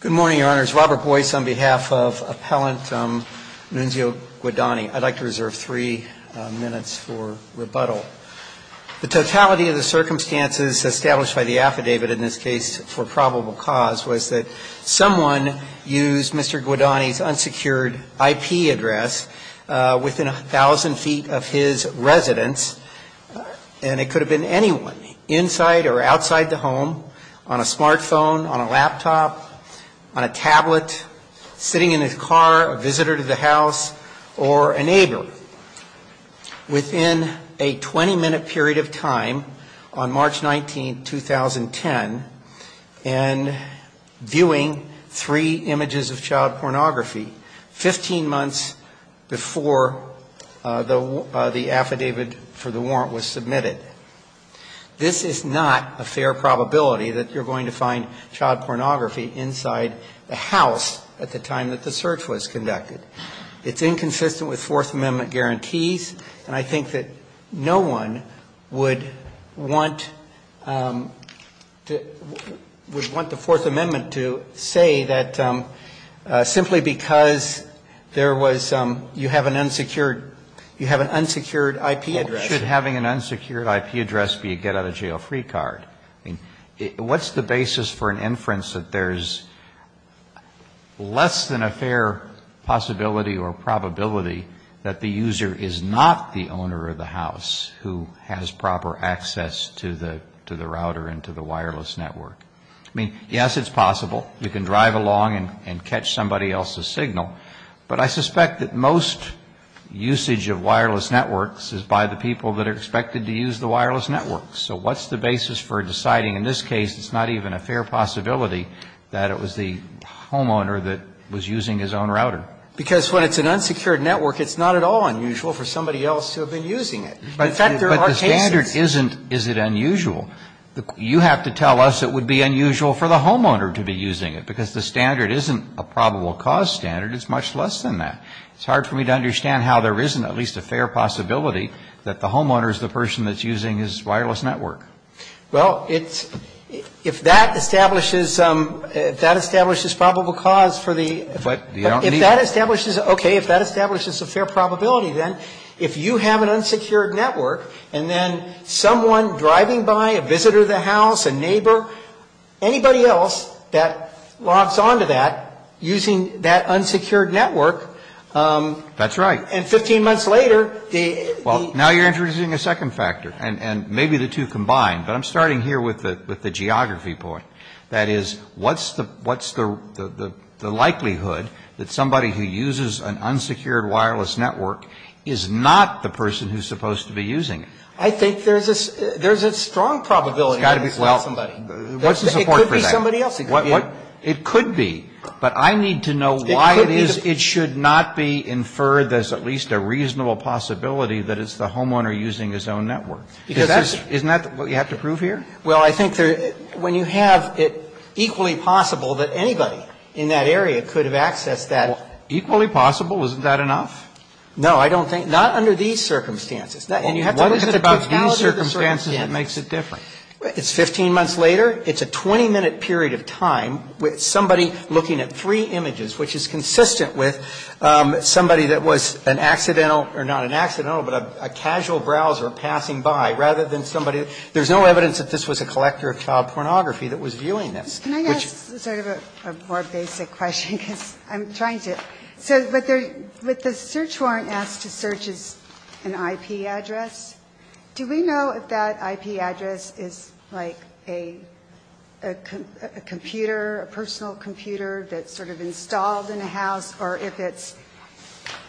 Good morning, Your Honors. Robert Boyce on behalf of Appellant Nunzio Guadagni. I'd like to reserve three minutes for rebuttal. The totality of the circumstances established by the affidavit in this case for probable cause was that someone used Mr. Guadagni's unsecured IP address within a thousand feet of his residence, and it could have been anyone, inside or outside the home, on a smart phone, on a laptop, on a computer, on a tablet, sitting in his car, a visitor to the house, or a neighbor, within a 20-minute period of time on March 19, 2010, and viewing three images of child pornography, 15 months before the affidavit for the warrant was submitted. This is not a fair probability that you're going to find child pornography inside the house at the time that the search was conducted. It's inconsistent with Fourth Amendment guarantees, and I think that no one would want to – would want the Fourth Amendment to say that simply because there was – you have an unsecured – you have an unsecured IP address. Why should having an unsecured IP address be a get-out-of-jail-free card? I mean, what's the basis for an inference that there's less than a fair possibility or probability that the user is not the owner of the house who has proper access to the router and to the wireless network? I mean, yes, it's possible. You can drive along and catch somebody else's signal. But I suspect that most usage of wireless networks is by the people that are expected to use the wireless networks. So what's the basis for deciding in this case it's not even a fair possibility that it was the homeowner that was using his own router? Because when it's an unsecured network, it's not at all unusual for somebody else to have been using it. In fact, there are cases. But the standard isn't, is it unusual? You have to tell us it would be unusual for the homeowner to be using it, because the standard isn't a probable cause standard. It's much less than that. It's hard for me to understand how there isn't at least a fair possibility that the homeowner is the person that's using his wireless network. Well, it's – if that establishes probable cause for the – But the – If that establishes – okay, if that establishes a fair probability, then if you have an unsecured network and then someone driving by, a visitor to the house, a neighbor, anybody else that logs on to that using that unsecured network. That's right. And 15 months later, the – Well, now you're introducing a second factor. And maybe the two combine. But I'm starting here with the geography point. That is, what's the likelihood that somebody who uses an unsecured wireless network is not the person who's supposed to be using it? I think there's a strong probability. Well, what's the support for that? It could be somebody else. It could be. But I need to know why it is it should not be inferred there's at least a reasonable possibility that it's the homeowner using his own network. Because that's – Isn't that what you have to prove here? Well, I think when you have it equally possible that anybody in that area could have accessed that – Equally possible? Isn't that enough? No, I don't think – not under these circumstances. And you have to look at the totality of the circumstances. That makes it different. It's 15 months later. It's a 20-minute period of time with somebody looking at three images, which is consistent with somebody that was an accidental – or not an accidental, but a casual browser passing by, rather than somebody – there's no evidence that this was a collector of child pornography that was viewing this. Can I ask sort of a more basic question? Because I'm trying to – so with the search warrant asked to search an IP address, do we know if that IP address is like a computer, a personal computer that's sort of installed in a house, or if it's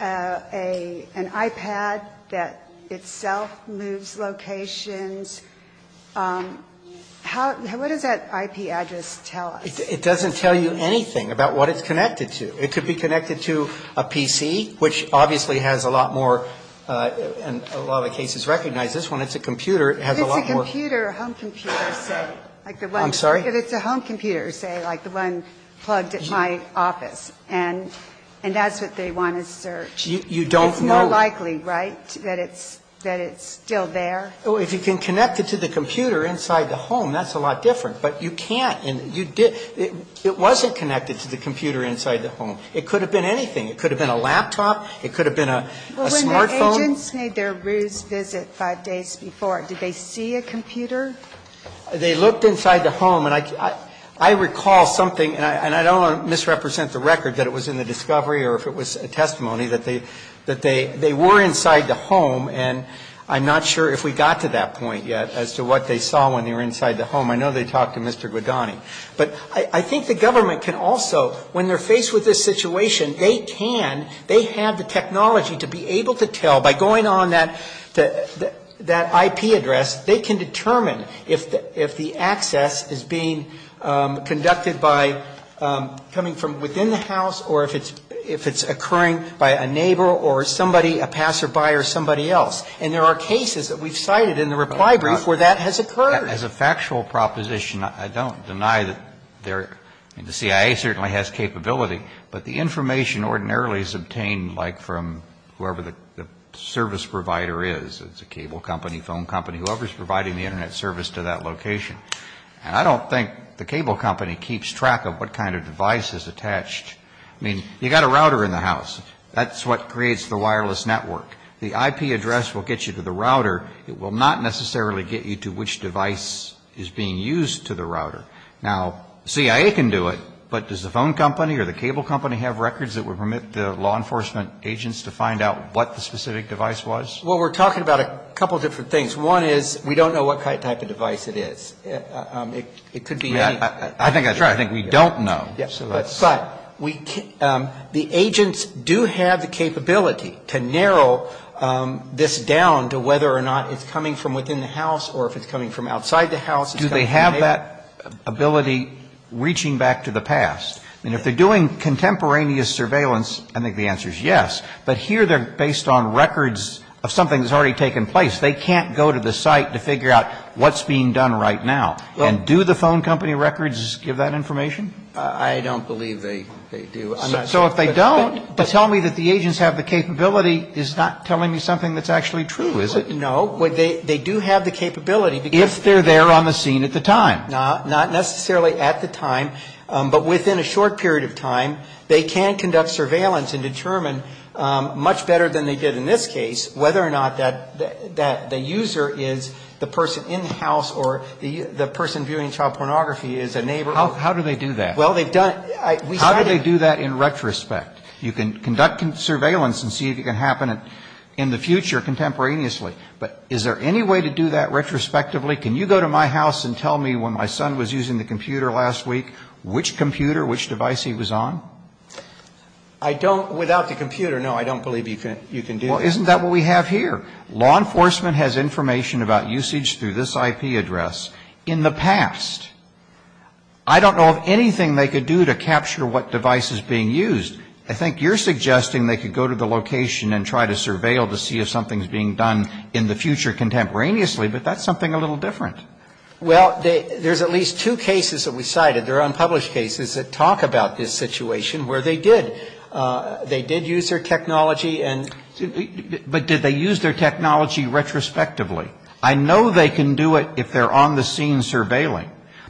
an iPad that itself moves locations? How – what does that IP address tell us? It doesn't tell you anything about what it's connected to. It could be connected to a PC, which obviously has a lot more – and a lot of cases recognize this one. It's a computer. It has a lot more – If it's a computer, a home computer, say, like the one – I'm sorry? If it's a home computer, say, like the one plugged at my office, and that's what they want to search. You don't know – It's more likely, right, that it's still there? Well, if you can connect it to the computer inside the home, that's a lot different. But you can't – it wasn't connected to the computer inside the home. It could have been anything. It could have been a laptop. It could have been a smartphone. Well, when the agents made their ruse visit five days before, did they see a computer? They looked inside the home. And I recall something, and I don't want to misrepresent the record, that it was in the discovery or if it was a testimony, that they were inside the home. And I'm not sure if we got to that point yet as to what they saw when they were inside the home. I know they talked to Mr. Guidani. But I think the government can also, when they're faced with this situation, they can, they have the technology to be able to tell by going on that IP address, they can determine if the access is being conducted by coming from within the house or if it's occurring by a neighbor or somebody, a passerby or somebody else. And there are cases that we've cited in the reply brief where that has occurred. As a factual proposition, I don't deny that the CIA certainly has capability, but the information ordinarily is obtained, like, from whoever the service provider is. It's a cable company, phone company, whoever's providing the Internet service to that location. And I don't think the cable company keeps track of what kind of device is attached. I mean, you've got a router in the house. That's what creates the wireless network. The IP address will get you to the router. It will not necessarily get you to which device is being used to the router. Now, the CIA can do it, but does the phone company or the cable company have records that would permit the law enforcement agents to find out what the specific device was? Well, we're talking about a couple different things. One is we don't know what type of device it is. It could be any. I think that's right. I think we don't know. But the agents do have the capability to narrow this down to whether or not it's coming from within the house or if it's coming from outside the house. Do they have that ability reaching back to the past? I mean, if they're doing contemporaneous surveillance, I think the answer is yes. But here they're based on records of something that's already taken place. They can't go to the site to figure out what's being done right now. And do the phone company records give that information? I don't believe they do. So if they don't, to tell me that the agents have the capability is not telling me something that's actually true, is it? No. They do have the capability. If they're there on the scene at the time. Not necessarily at the time. But within a short period of time, they can conduct surveillance and determine much better than they did in this case whether or not the user is the person in the house or the person viewing child pornography is a neighbor. How do they do that? Well, they've done it. How do they do that in retrospect? You can conduct surveillance and see if it can happen in the future contemporaneously. But is there any way to do that retrospectively? Can you go to my house and tell me when my son was using the computer last week, which computer, which device he was on? I don't. Without the computer, no, I don't believe you can do that. Well, isn't that what we have here? Law enforcement has information about usage through this IP address in the past. I don't know of anything they could do to capture what device is being used. I think you're suggesting they could go to the location and try to surveil to see if something is being done in the future contemporaneously, but that's something a little different. Well, there's at least two cases that we cited. There are unpublished cases that talk about this situation where they did. retrospectively. I know they can do it if they're on the scene surveilling.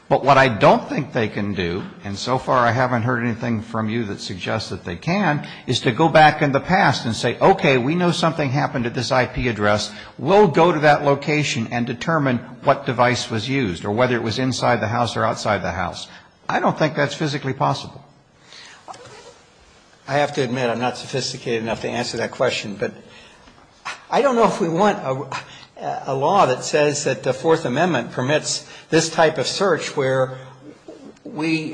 But what I don't think they can do, and so far I haven't heard anything from you that suggests that they can, is to go back in the past and say, okay, we know something happened at this IP address. We'll go to that location and determine what device was used or whether it was inside the house or outside the house. I don't think that's physically possible. I have to admit I'm not sophisticated enough to answer that question, but I don't know if we want a law that says that the Fourth Amendment permits this type of search where we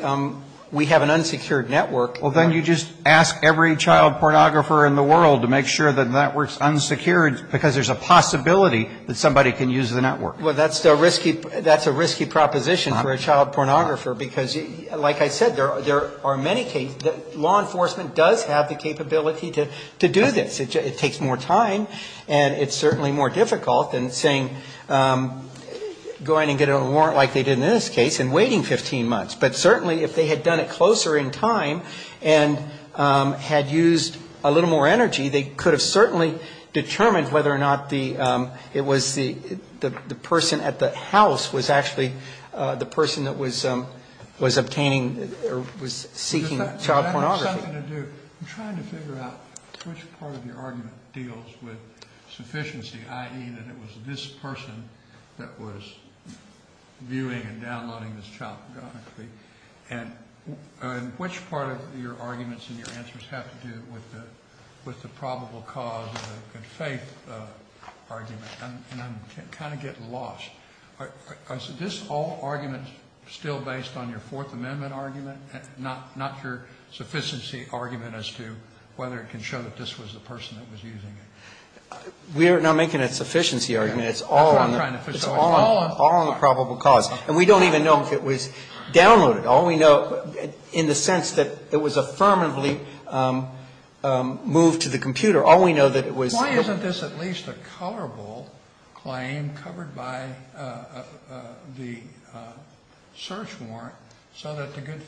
have an unsecured network. Well, then you just ask every child pornographer in the world to make sure the network's unsecured because there's a possibility that somebody can use the network. Well, that's a risky proposition for a child pornographer because, like I said, there are many cases that law enforcement does have the capability to do this. It takes more time, and it's certainly more difficult than saying, go in and get a warrant like they did in this case and waiting 15 months. But certainly if they had done it closer in time and had used a little more energy, they could have certainly determined whether or not the person at the house was actually the person that was obtaining or was seeking child pornography. I'm trying to figure out which part of your argument deals with sufficiency, i.e., that it was this person that was viewing and downloading this child pornography, and which part of your arguments and your answers have to do with the probable cause of the good faith argument. And I'm kind of getting lost. Is this all argument still based on your Fourth Amendment argument, not your sufficiency argument as to whether it can show that this was the person that was using it? We are not making a sufficiency argument. It's all on the probable cause. And we don't even know if it was downloaded. All we know, in the sense that it was affirmatively moved to the computer, all we know that it was. Why isn't this at least a colorable claim covered by the search warrant so that the good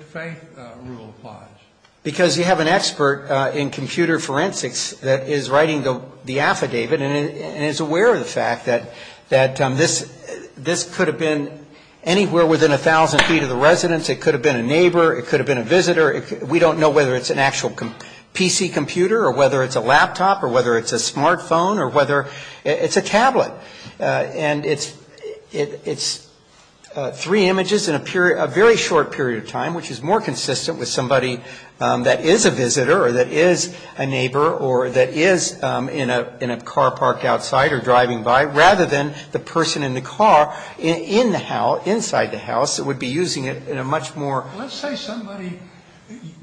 faith rule applies? Because you have an expert in computer forensics that is writing the affidavit and is aware of the fact that this could have been anywhere within a thousand feet of the residence. It could have been a neighbor. It could have been a visitor. We don't know whether it's an actual PC computer or whether it's a laptop or whether it's a smartphone or whether it's a tablet. And it's three images in a very short period of time, or that is in a car parked outside or driving by, rather than the person in the car inside the house that would be using it in a much more Let's say somebody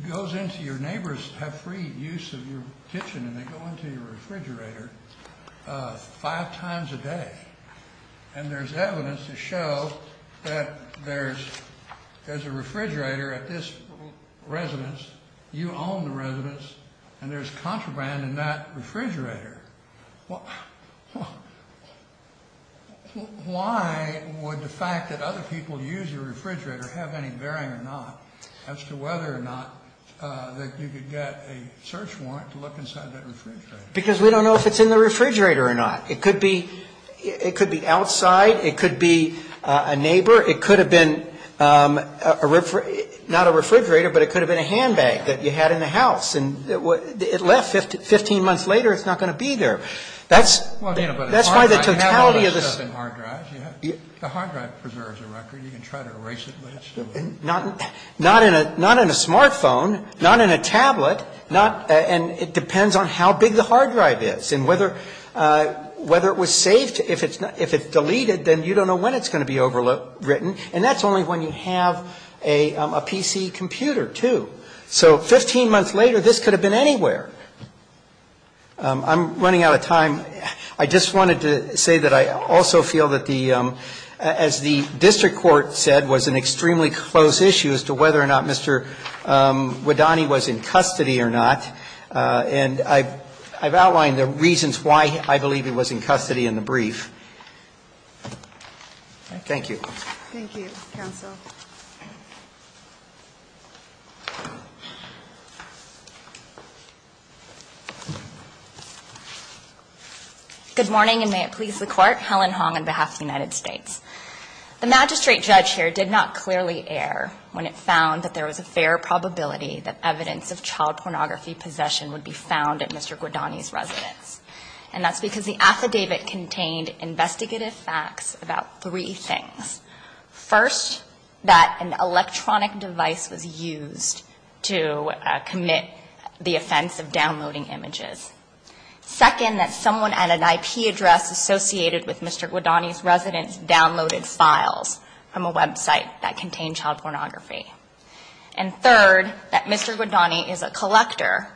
goes into your neighbor's have free use of your kitchen and they go into your refrigerator five times a day. And there's evidence to show that there's a refrigerator at this residence. You own the residence. And there's contraband in that refrigerator. Why would the fact that other people use your refrigerator have any bearing or not as to whether or not that you could get a search warrant to look inside that refrigerator? Because we don't know if it's in the refrigerator or not. It could be outside. It could be a neighbor. It could have been not a refrigerator, but it could have been a handbag that you had in the house. And it left. Fifteen months later, it's not going to be there. That's why the totality of this Not in a smartphone, not in a tablet. And it depends on how big the hard drive is and whether it was saved. If it's deleted, then you don't know when it's going to be overwritten. And that's only when you have a PC computer, too. So 15 months later, this could have been anywhere. I'm running out of time. I just wanted to say that I also feel that the as the district court said was an extremely close issue as to whether or not Mr. Widani was in custody or not. And I've outlined the reasons why I believe he was in custody in the brief. Thank you. Thank you, counsel. Good morning, and may it please the court. Helen Hong on behalf of the United States. The magistrate judge here did not clearly err when it found that there was a fair probability that evidence of child pornography possession would be found at Mr. Widani's residence. And that's because the affidavit contained investigative facts about three things. First, that an electronic device was used to commit the offense of downloading images. Second, that someone at an IP address associated with Mr. Widani's residence downloaded files from a website that contained child pornography. And third, that Mr. Widani is a collector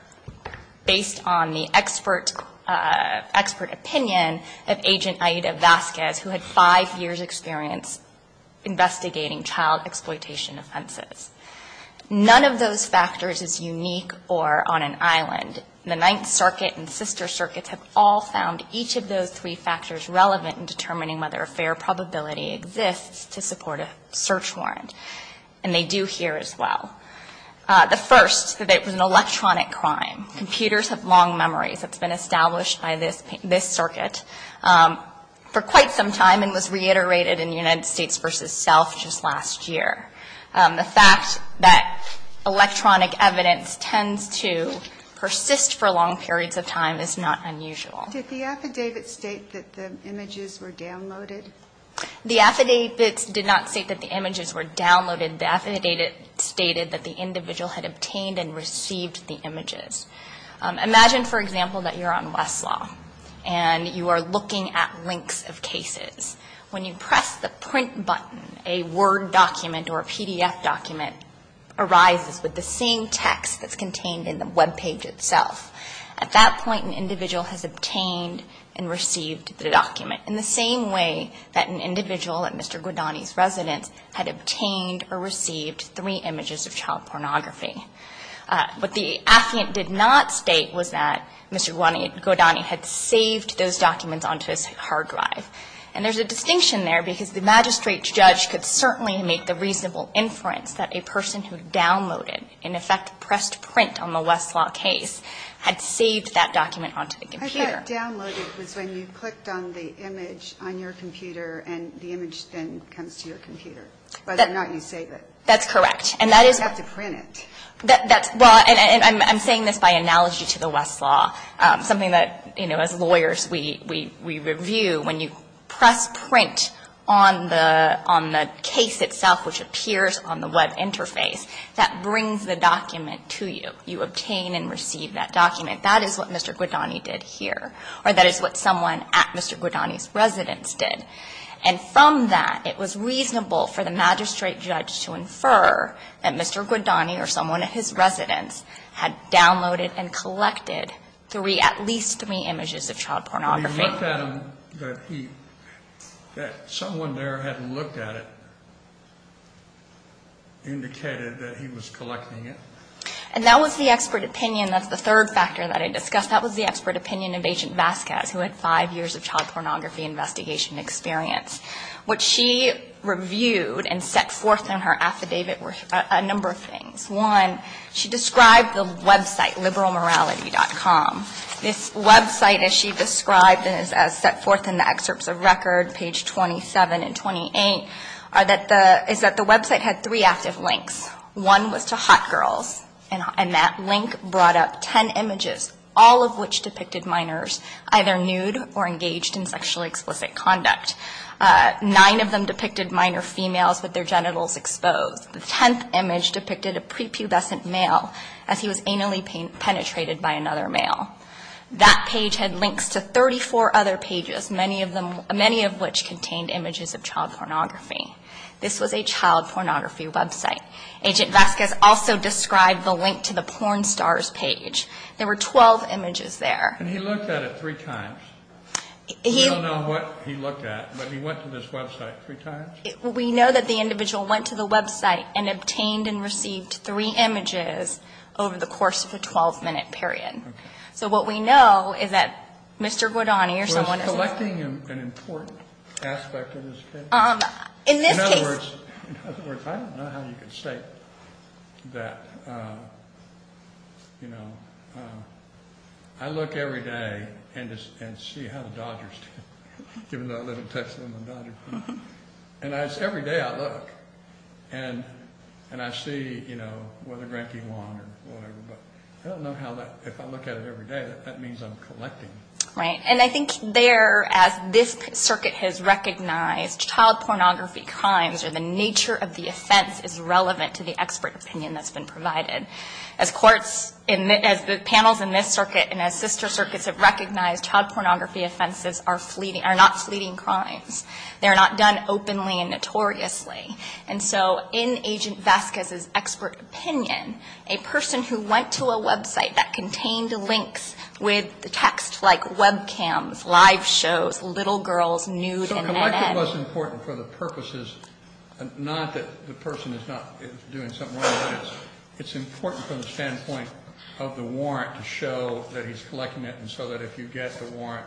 based on the expert opinion of Agent Aida Vasquez, who had five years' experience investigating child exploitation offenses. None of those factors is unique or on an island. The Ninth Circuit and Sister Circuits have all found each of those three factors relevant in determining whether a fair probability exists to support a search warrant. And they do here as well. The first, that it was an electronic crime. Computers have long memories. It's been established by this circuit for quite some time and was reiterated in United States v. Self just last year. The fact that electronic evidence tends to persist for long periods of time is not unusual. Did the affidavit state that the images were downloaded? The affidavit did not state that the images were downloaded. The affidavit stated that the individual had obtained and received the images. Imagine, for example, that you're on Westlaw and you are looking at links of cases. When you press the print button, a Word document or a PDF document arises with the same text that's contained in the webpage itself. At that point, an individual has obtained and received the document. In the same way that an individual at Mr. Guadagni's residence had obtained or received three images of child pornography. What the affiant did not state was that Mr. Guadagni had saved those documents onto his hard drive. And there's a distinction there because the magistrate judge could certainly make the reasonable inference that a person who downloaded, in effect pressed print on the Westlaw case, had saved that document onto the computer. But that downloaded was when you clicked on the image on your computer and the image then comes to your computer. But if not, you save it. That's correct. And that is what you have to print it. That's, well, and I'm saying this by analogy to the Westlaw, something that, you know, as lawyers we review. When you press print on the case itself, which appears on the Web interface, that brings the document to you. You obtain and receive that document. That is what Mr. Guadagni did here. Or that is what someone at Mr. Guadagni's residence did. And from that, it was reasonable for the magistrate judge to infer that Mr. Guadagni or someone at his residence had downloaded and collected three, at least three images of child pornography. When you looked at them, that he, that someone there had looked at it indicated that he was collecting it? And that was the expert opinion. That's the third factor that I discussed. That was the expert opinion of Agent Vasquez, who had five years of child pornography investigation experience. What she reviewed and set forth in her affidavit were a number of things. One, she described the Web site, liberalmorality.com. This Web site, as she described and as set forth in the excerpts of record, page 27 and 28, is that the Web site had three active links. One was to hot girls, and that link brought up ten images, all of which depicted minors either nude or engaged in sexually explicit conduct. Nine of them depicted minor females with their genitals exposed. The tenth image depicted a prepubescent male as he was anally penetrated by another male. That page had links to 34 other pages, many of them, many of which contained images of child pornography. This was a child pornography Web site. Agent Vasquez also described the link to the porn stars page. There were 12 images there. And he looked at it three times. We don't know what he looked at, but he went to this Web site three times? We know that the individual went to the Web site and obtained and received three images over the course of a 12-minute period. Okay. So what we know is that Mr. Guadagni or someone else. I'm collecting an important aspect of this case. In this case. In other words, I don't know how you could state that, you know. I look every day and see how the Dodgers did, given that I live in Texas and I'm a Dodger fan. And it's every day I look, and I see, you know, whether Grampy won or whatever. But I don't know how that, if I look at it every day, that means I'm collecting. Right. And I think there, as this circuit has recognized, child pornography crimes or the nature of the offense is relevant to the expert opinion that's been provided. As courts, as the panels in this circuit and as sister circuits have recognized, child pornography offenses are not fleeting crimes. They're not done openly and notoriously. And so in Agent Vasquez's expert opinion, a person who went to a website that contained links with the text like webcams, live shows, little girls, nude, and that end. So collection was important for the purposes, not that the person is not doing something wrong, but it's important from the standpoint of the warrant to show that he's collecting it, and so that if you get the warrant,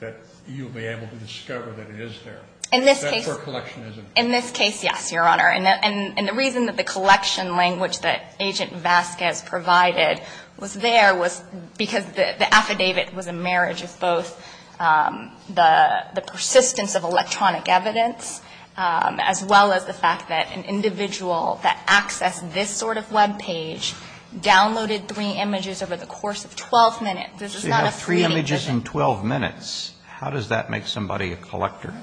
that you'll be able to discover that it is there. In this case. That's where collection is important. In this case, yes, Your Honor. And the reason that the collection language that Agent Vasquez provided was there was because the affidavit was a marriage of both the persistence of electronic evidence as well as the fact that an individual that accessed this sort of web page downloaded three images over the course of 12 minutes. This is not a fleeting visit. So you have three images in 12 minutes. How does that make somebody a collector?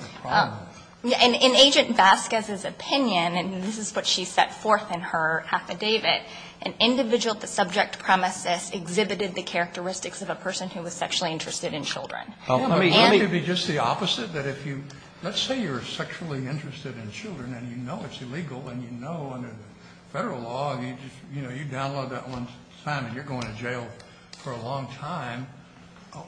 In Agent Vasquez's opinion, and this is what she set forth in her affidavit, an individual at the subject premises exhibited the characteristics of a person who was sexually interested in children. Wouldn't it be just the opposite? Let's say you're sexually interested in children and you know it's illegal and you know under Federal law you download that one time and you're going to jail for a long time.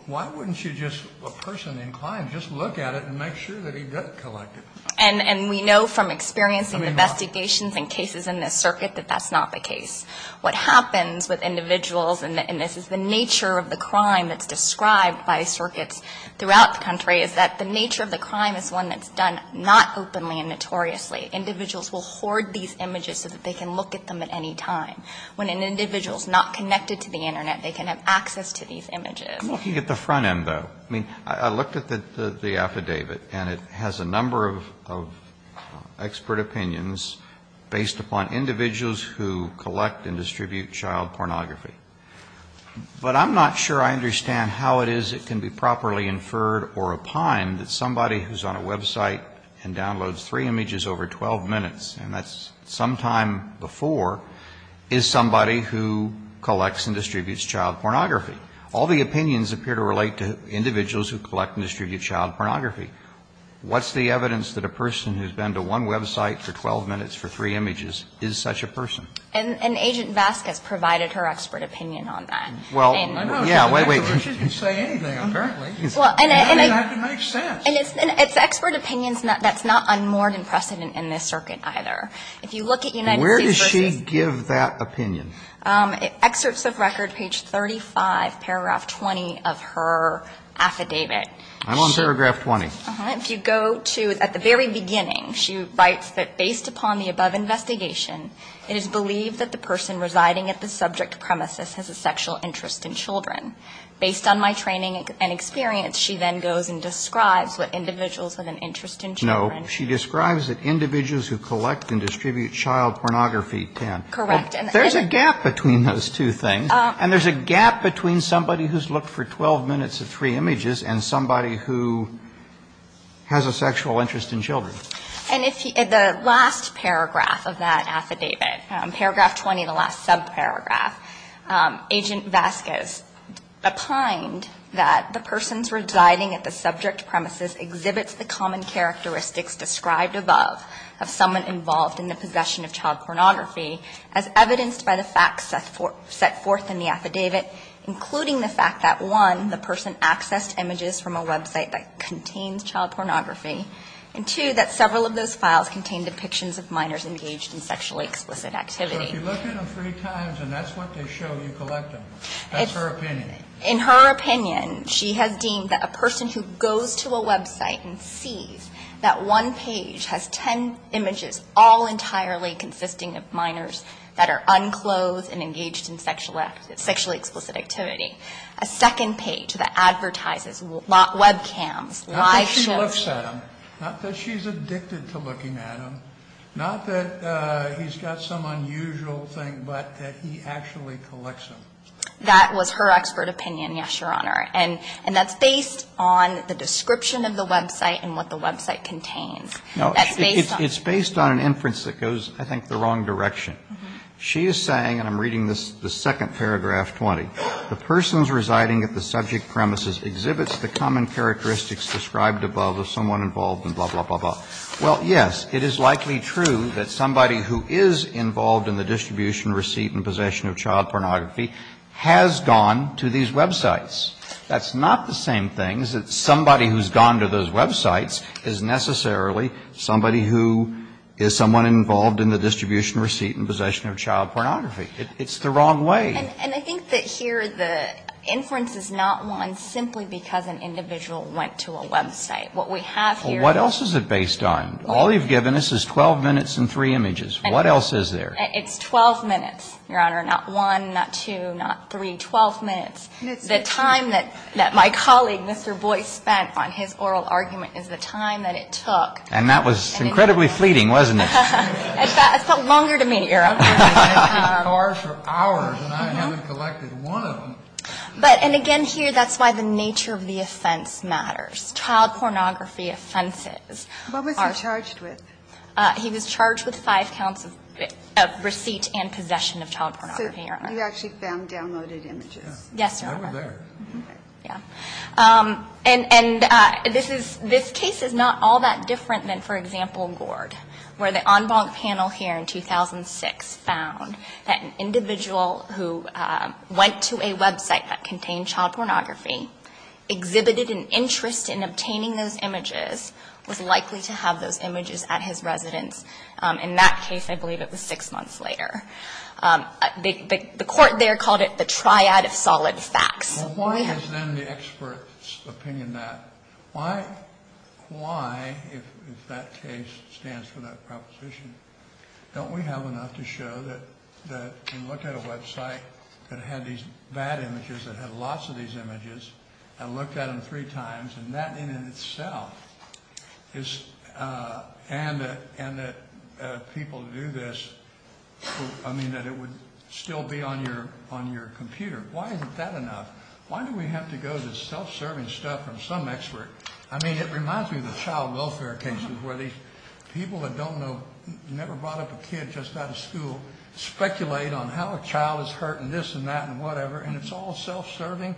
Why wouldn't you just, a person inclined, just look at it and make sure that he doesn't collect it? And we know from experiencing investigations and cases in this circuit that that's not the case. What happens with individuals, and this is the nature of the crime that's described by circuits throughout the country, is that the nature of the crime is one that's done not openly and notoriously. Individuals will hoard these images so that they can look at them at any time. When an individual is not connected to the Internet, they can have access to these images. I'm looking at the front end, though. I mean, I looked at the affidavit and it has a number of expert opinions based upon individuals who collect and distribute child pornography. But I'm not sure I understand how it is it can be properly inferred or opined that somebody who's on a website and downloads three images over 12 minutes, and that's sometime before, is somebody who collects and distributes child pornography. All the opinions appear to relate to individuals who collect and distribute child pornography. What's the evidence that a person who's been to one website for 12 minutes for three images is such a person? And Agent Vasquez provided her expert opinion on that. Well, I don't know. Yeah, wait, wait. She didn't say anything, apparently. Well, and I. I mean, that would make sense. And it's expert opinions that's not unmoored in precedent in this circuit either. If you look at United States versus. Where does she give that opinion? Excerpts of record, page 35, paragraph 20 of her affidavit. I'm on paragraph 20. If you go to at the very beginning, she writes that based upon the above investigation, it is believed that the person residing at the subject premises has a sexual interest in children. Based on my training and experience, she then goes and describes what individuals have an interest in children. No, she describes that individuals who collect and distribute child pornography tend. Correct. There's a gap between those two things. And there's a gap between somebody who's looked for 12 minutes of three images and somebody who has a sexual interest in children. And if the last paragraph of that affidavit, paragraph 20, the last subparagraph, Agent Vasquez opined that the person's residing at the subject premises exhibits the common characteristics described above of someone involved in the possession of child pornography as evidenced by the facts set forth in the affidavit, including the fact that, one, the person accessed images from a website that contains child pornography, and, two, that several of those files contain depictions of minors engaged in sexually explicit activity. But if you look at them three times and that's what they show you collect them, that's her opinion. In her opinion, she has deemed that a person who goes to a website and sees that one page has ten images all entirely consisting of minors that are unclothed and engaged in sexually explicit activity, a second page that advertises webcams, live shows. Not that she looks at them. Not that she's addicted to looking at them. Not that he's got some unusual thing, but that he actually collects them. That was her expert opinion, yes, Your Honor. And that's based on the description of the website and what the website contains. That's based on. It's based on an inference that goes, I think, the wrong direction. She is saying, and I'm reading the second paragraph, 20, the person's residing at the subject premises exhibits the common characteristics described above of someone involved in blah, blah, blah, blah. Well, yes, it is likely true that somebody who is involved in the distribution receipt and possession of child pornography has gone to these websites. That's not the same thing as somebody who's gone to those websites is necessarily somebody who is someone involved in the distribution receipt and possession of child pornography. It's the wrong way. And I think that here the inference is not one simply because an individual went to a website. What we have here. Well, what else is it based on? All you've given us is 12 minutes and three images. What else is there? It's 12 minutes, Your Honor. Not one, not two, not three. 12 minutes. The time that my colleague, Mr. Boyce, spent on his oral argument is the time that it took. And that was incredibly fleeting, wasn't it? It took longer to meet, Your Honor. It took hours for hours and I haven't collected one of them. But, and again here, that's why the nature of the offense matters. Child pornography offenses. What was he charged with? He was charged with five counts of receipt and possession of child pornography, Your Honor. So you actually found downloaded images? Yes, Your Honor. They were there. Okay. Yeah. And this is, this case is not all that different than, for example, Gord, where the en banc panel here in 2006 found that an individual who went to a website that contained child pornography, exhibited an interest in obtaining those images, was likely to have those images at his residence. In that case, I believe it was six months later. The court there called it the triad of solid facts. Well, why is then the expert's opinion that? Why, if that case stands for that proposition, don't we have enough to show that we looked at a website that had these bad images, that had lots of these images, and looked at them three times, and that in and of itself is, and that people do this, I mean, that it would still be on your computer. Why isn't that enough? Why do we have to go to self-serving stuff from some expert? I mean, it reminds me of the child welfare cases where these people that don't know, never brought up a kid just out of school, speculate on how a child is hurt and this and that and whatever, and it's all self-serving.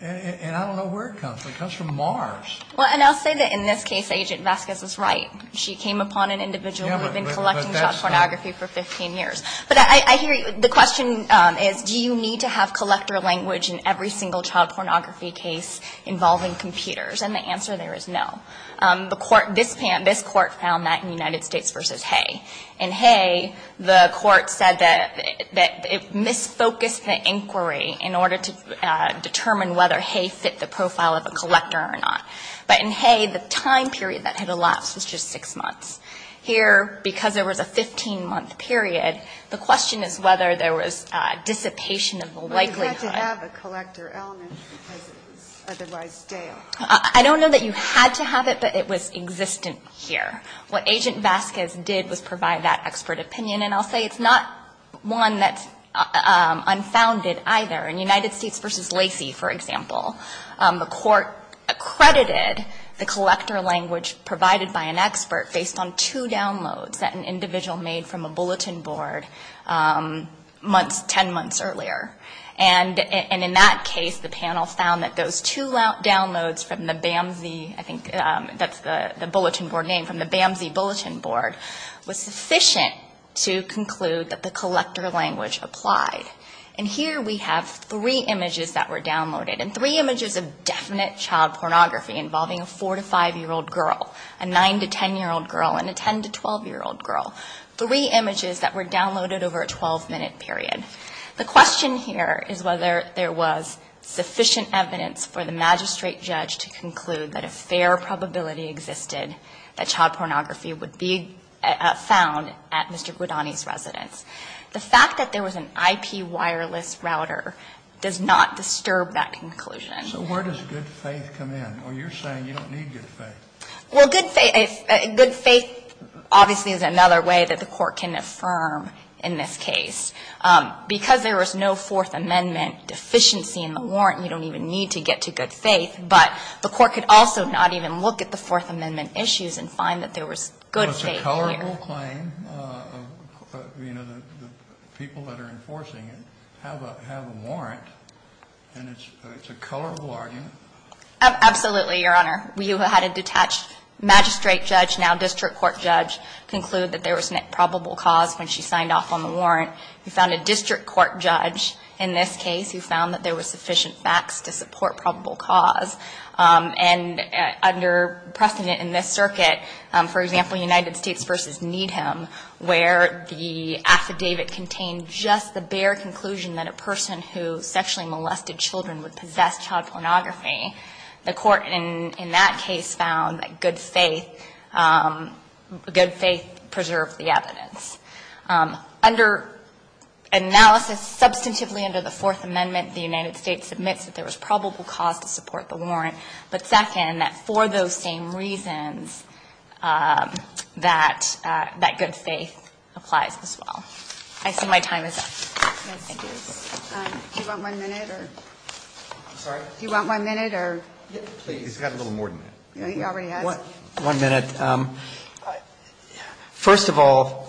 And I don't know where it comes from. It comes from Mars. Well, and I'll say that in this case, Agent Vasquez was right. She came upon an individual who had been collecting child pornography for 15 years. But I hear you. The question is, do you need to have collector language in every single child pornography case involving computers? And the answer there is no. The court, this court found that in United States v. Hay. In Hay, the court said that it misfocused the inquiry in order to determine whether Hay fit the profile of a collector or not. But in Hay, the time period that had elapsed was just six months. Here, because there was a 15-month period, the question is whether there was dissipation of the likelihood. But you had to have a collector element because it was otherwise stale. I don't know that you had to have it, but it was existent here. What Agent Vasquez did was provide that expert opinion. And I'll say it's not one that's unfounded either. In United States v. Lacey, for example, the court accredited the collector language provided by an expert based on two downloads that an individual made from a bulletin board months, 10 months earlier. And in that case, the panel found that those two downloads from the BAMSI, I think that's the bulletin board name, from the BAMSI bulletin board, was sufficient to conclude that the collector language applied. And here we have three images that were downloaded. And three images of definite child pornography involving a 4- to 5-year-old girl, a 9- to 10-year-old girl, and a 10- to 12-year-old girl. Three images that were downloaded over a 12-minute period. The question here is whether there was sufficient evidence for the magistrate judge to conclude that a fair probability existed that child pornography would be found at Mr. Guidani's residence. The fact that there was an IP wireless router does not disturb that conclusion. So where does good faith come in? Or you're saying you don't need good faith. Well, good faith, good faith obviously is another way that the court can affirm in this case. Because there was no Fourth Amendment deficiency in the warrant, you don't even need to get to good faith, but the court could also not even look at the Fourth Amendment issues and find that there was good faith here. Well, it's a colorful claim. You know, the people that are enforcing it have a warrant, and it's a colorful argument. Absolutely, Your Honor. We had a detached magistrate judge, now district court judge, conclude that there was probable cause when she signed off on the warrant. We found a district court judge in this case who found that there was sufficient facts to support probable cause. And under precedent in this circuit, for example, United States v. Needham, where the affidavit contained just the bare conclusion that a person who sexually molested children would possess child pornography, the court in that case found that there was probable cause. Under analysis, substantively under the Fourth Amendment, the United States admits that there was probable cause to support the warrant. But second, that for those same reasons, that good faith applies as well. I see my time is up. Thank you. Do you want one minute or? I'm sorry? Do you want one minute or? Please. He's got a little more than that. He already has. One minute. First of all,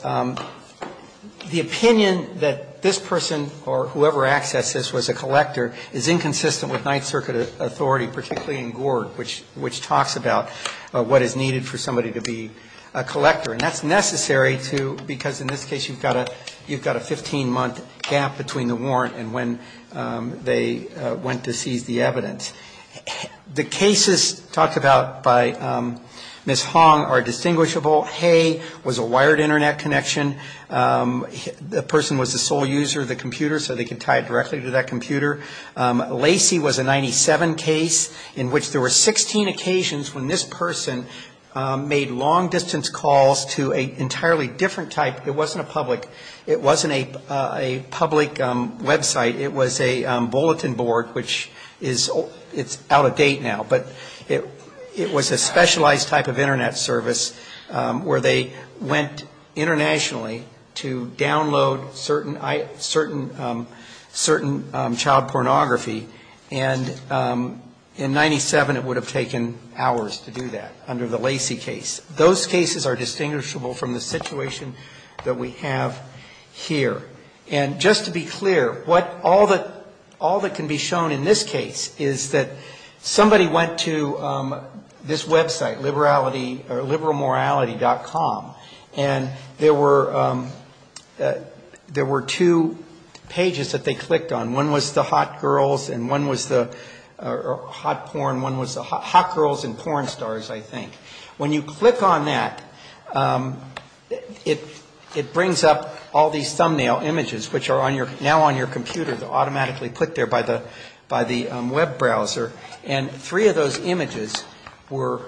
the opinion that this person or whoever accessed this was a collector is inconsistent with Ninth Circuit authority, particularly in Gorg, which talks about what is needed for somebody to be a collector. And that's necessary, too, because in this case you've got a 15-month gap between the warrant and when they went to seize the evidence. The cases talked about by Ms. Hong are distinguishable. Hay was a wired Internet connection. The person was the sole user of the computer, so they could tie it directly to that computer. Lacy was a 97 case in which there were 16 occasions when this person made long-distance calls to an entirely different type. It wasn't a public. It wasn't a public website. It was a bulletin board, which is out of date now, but it was a specialized type of Internet service where they went internationally to download certain child pornography, and in 97 it would have taken hours to do that under the Lacy case. Those cases are distinguishable from the situation that we have here. And just to be clear, all that can be shown in this case is that somebody went to this website, liberal morality.com, and there were two pages that they clicked on. One was the hot girls and one was the hot porn. One was the hot girls and porn stars, I think. When you click on that, it brings up all these thumbnail images, which are now on your computer. They're automatically put there by the web browser, and three of those images were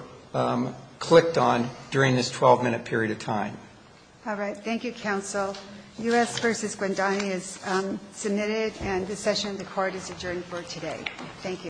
clicked on during this 12-minute period of time. All right. Thank you, counsel. U.S. v. Guantanamo is submitted, and this session of the court is adjourned for today. Thank you.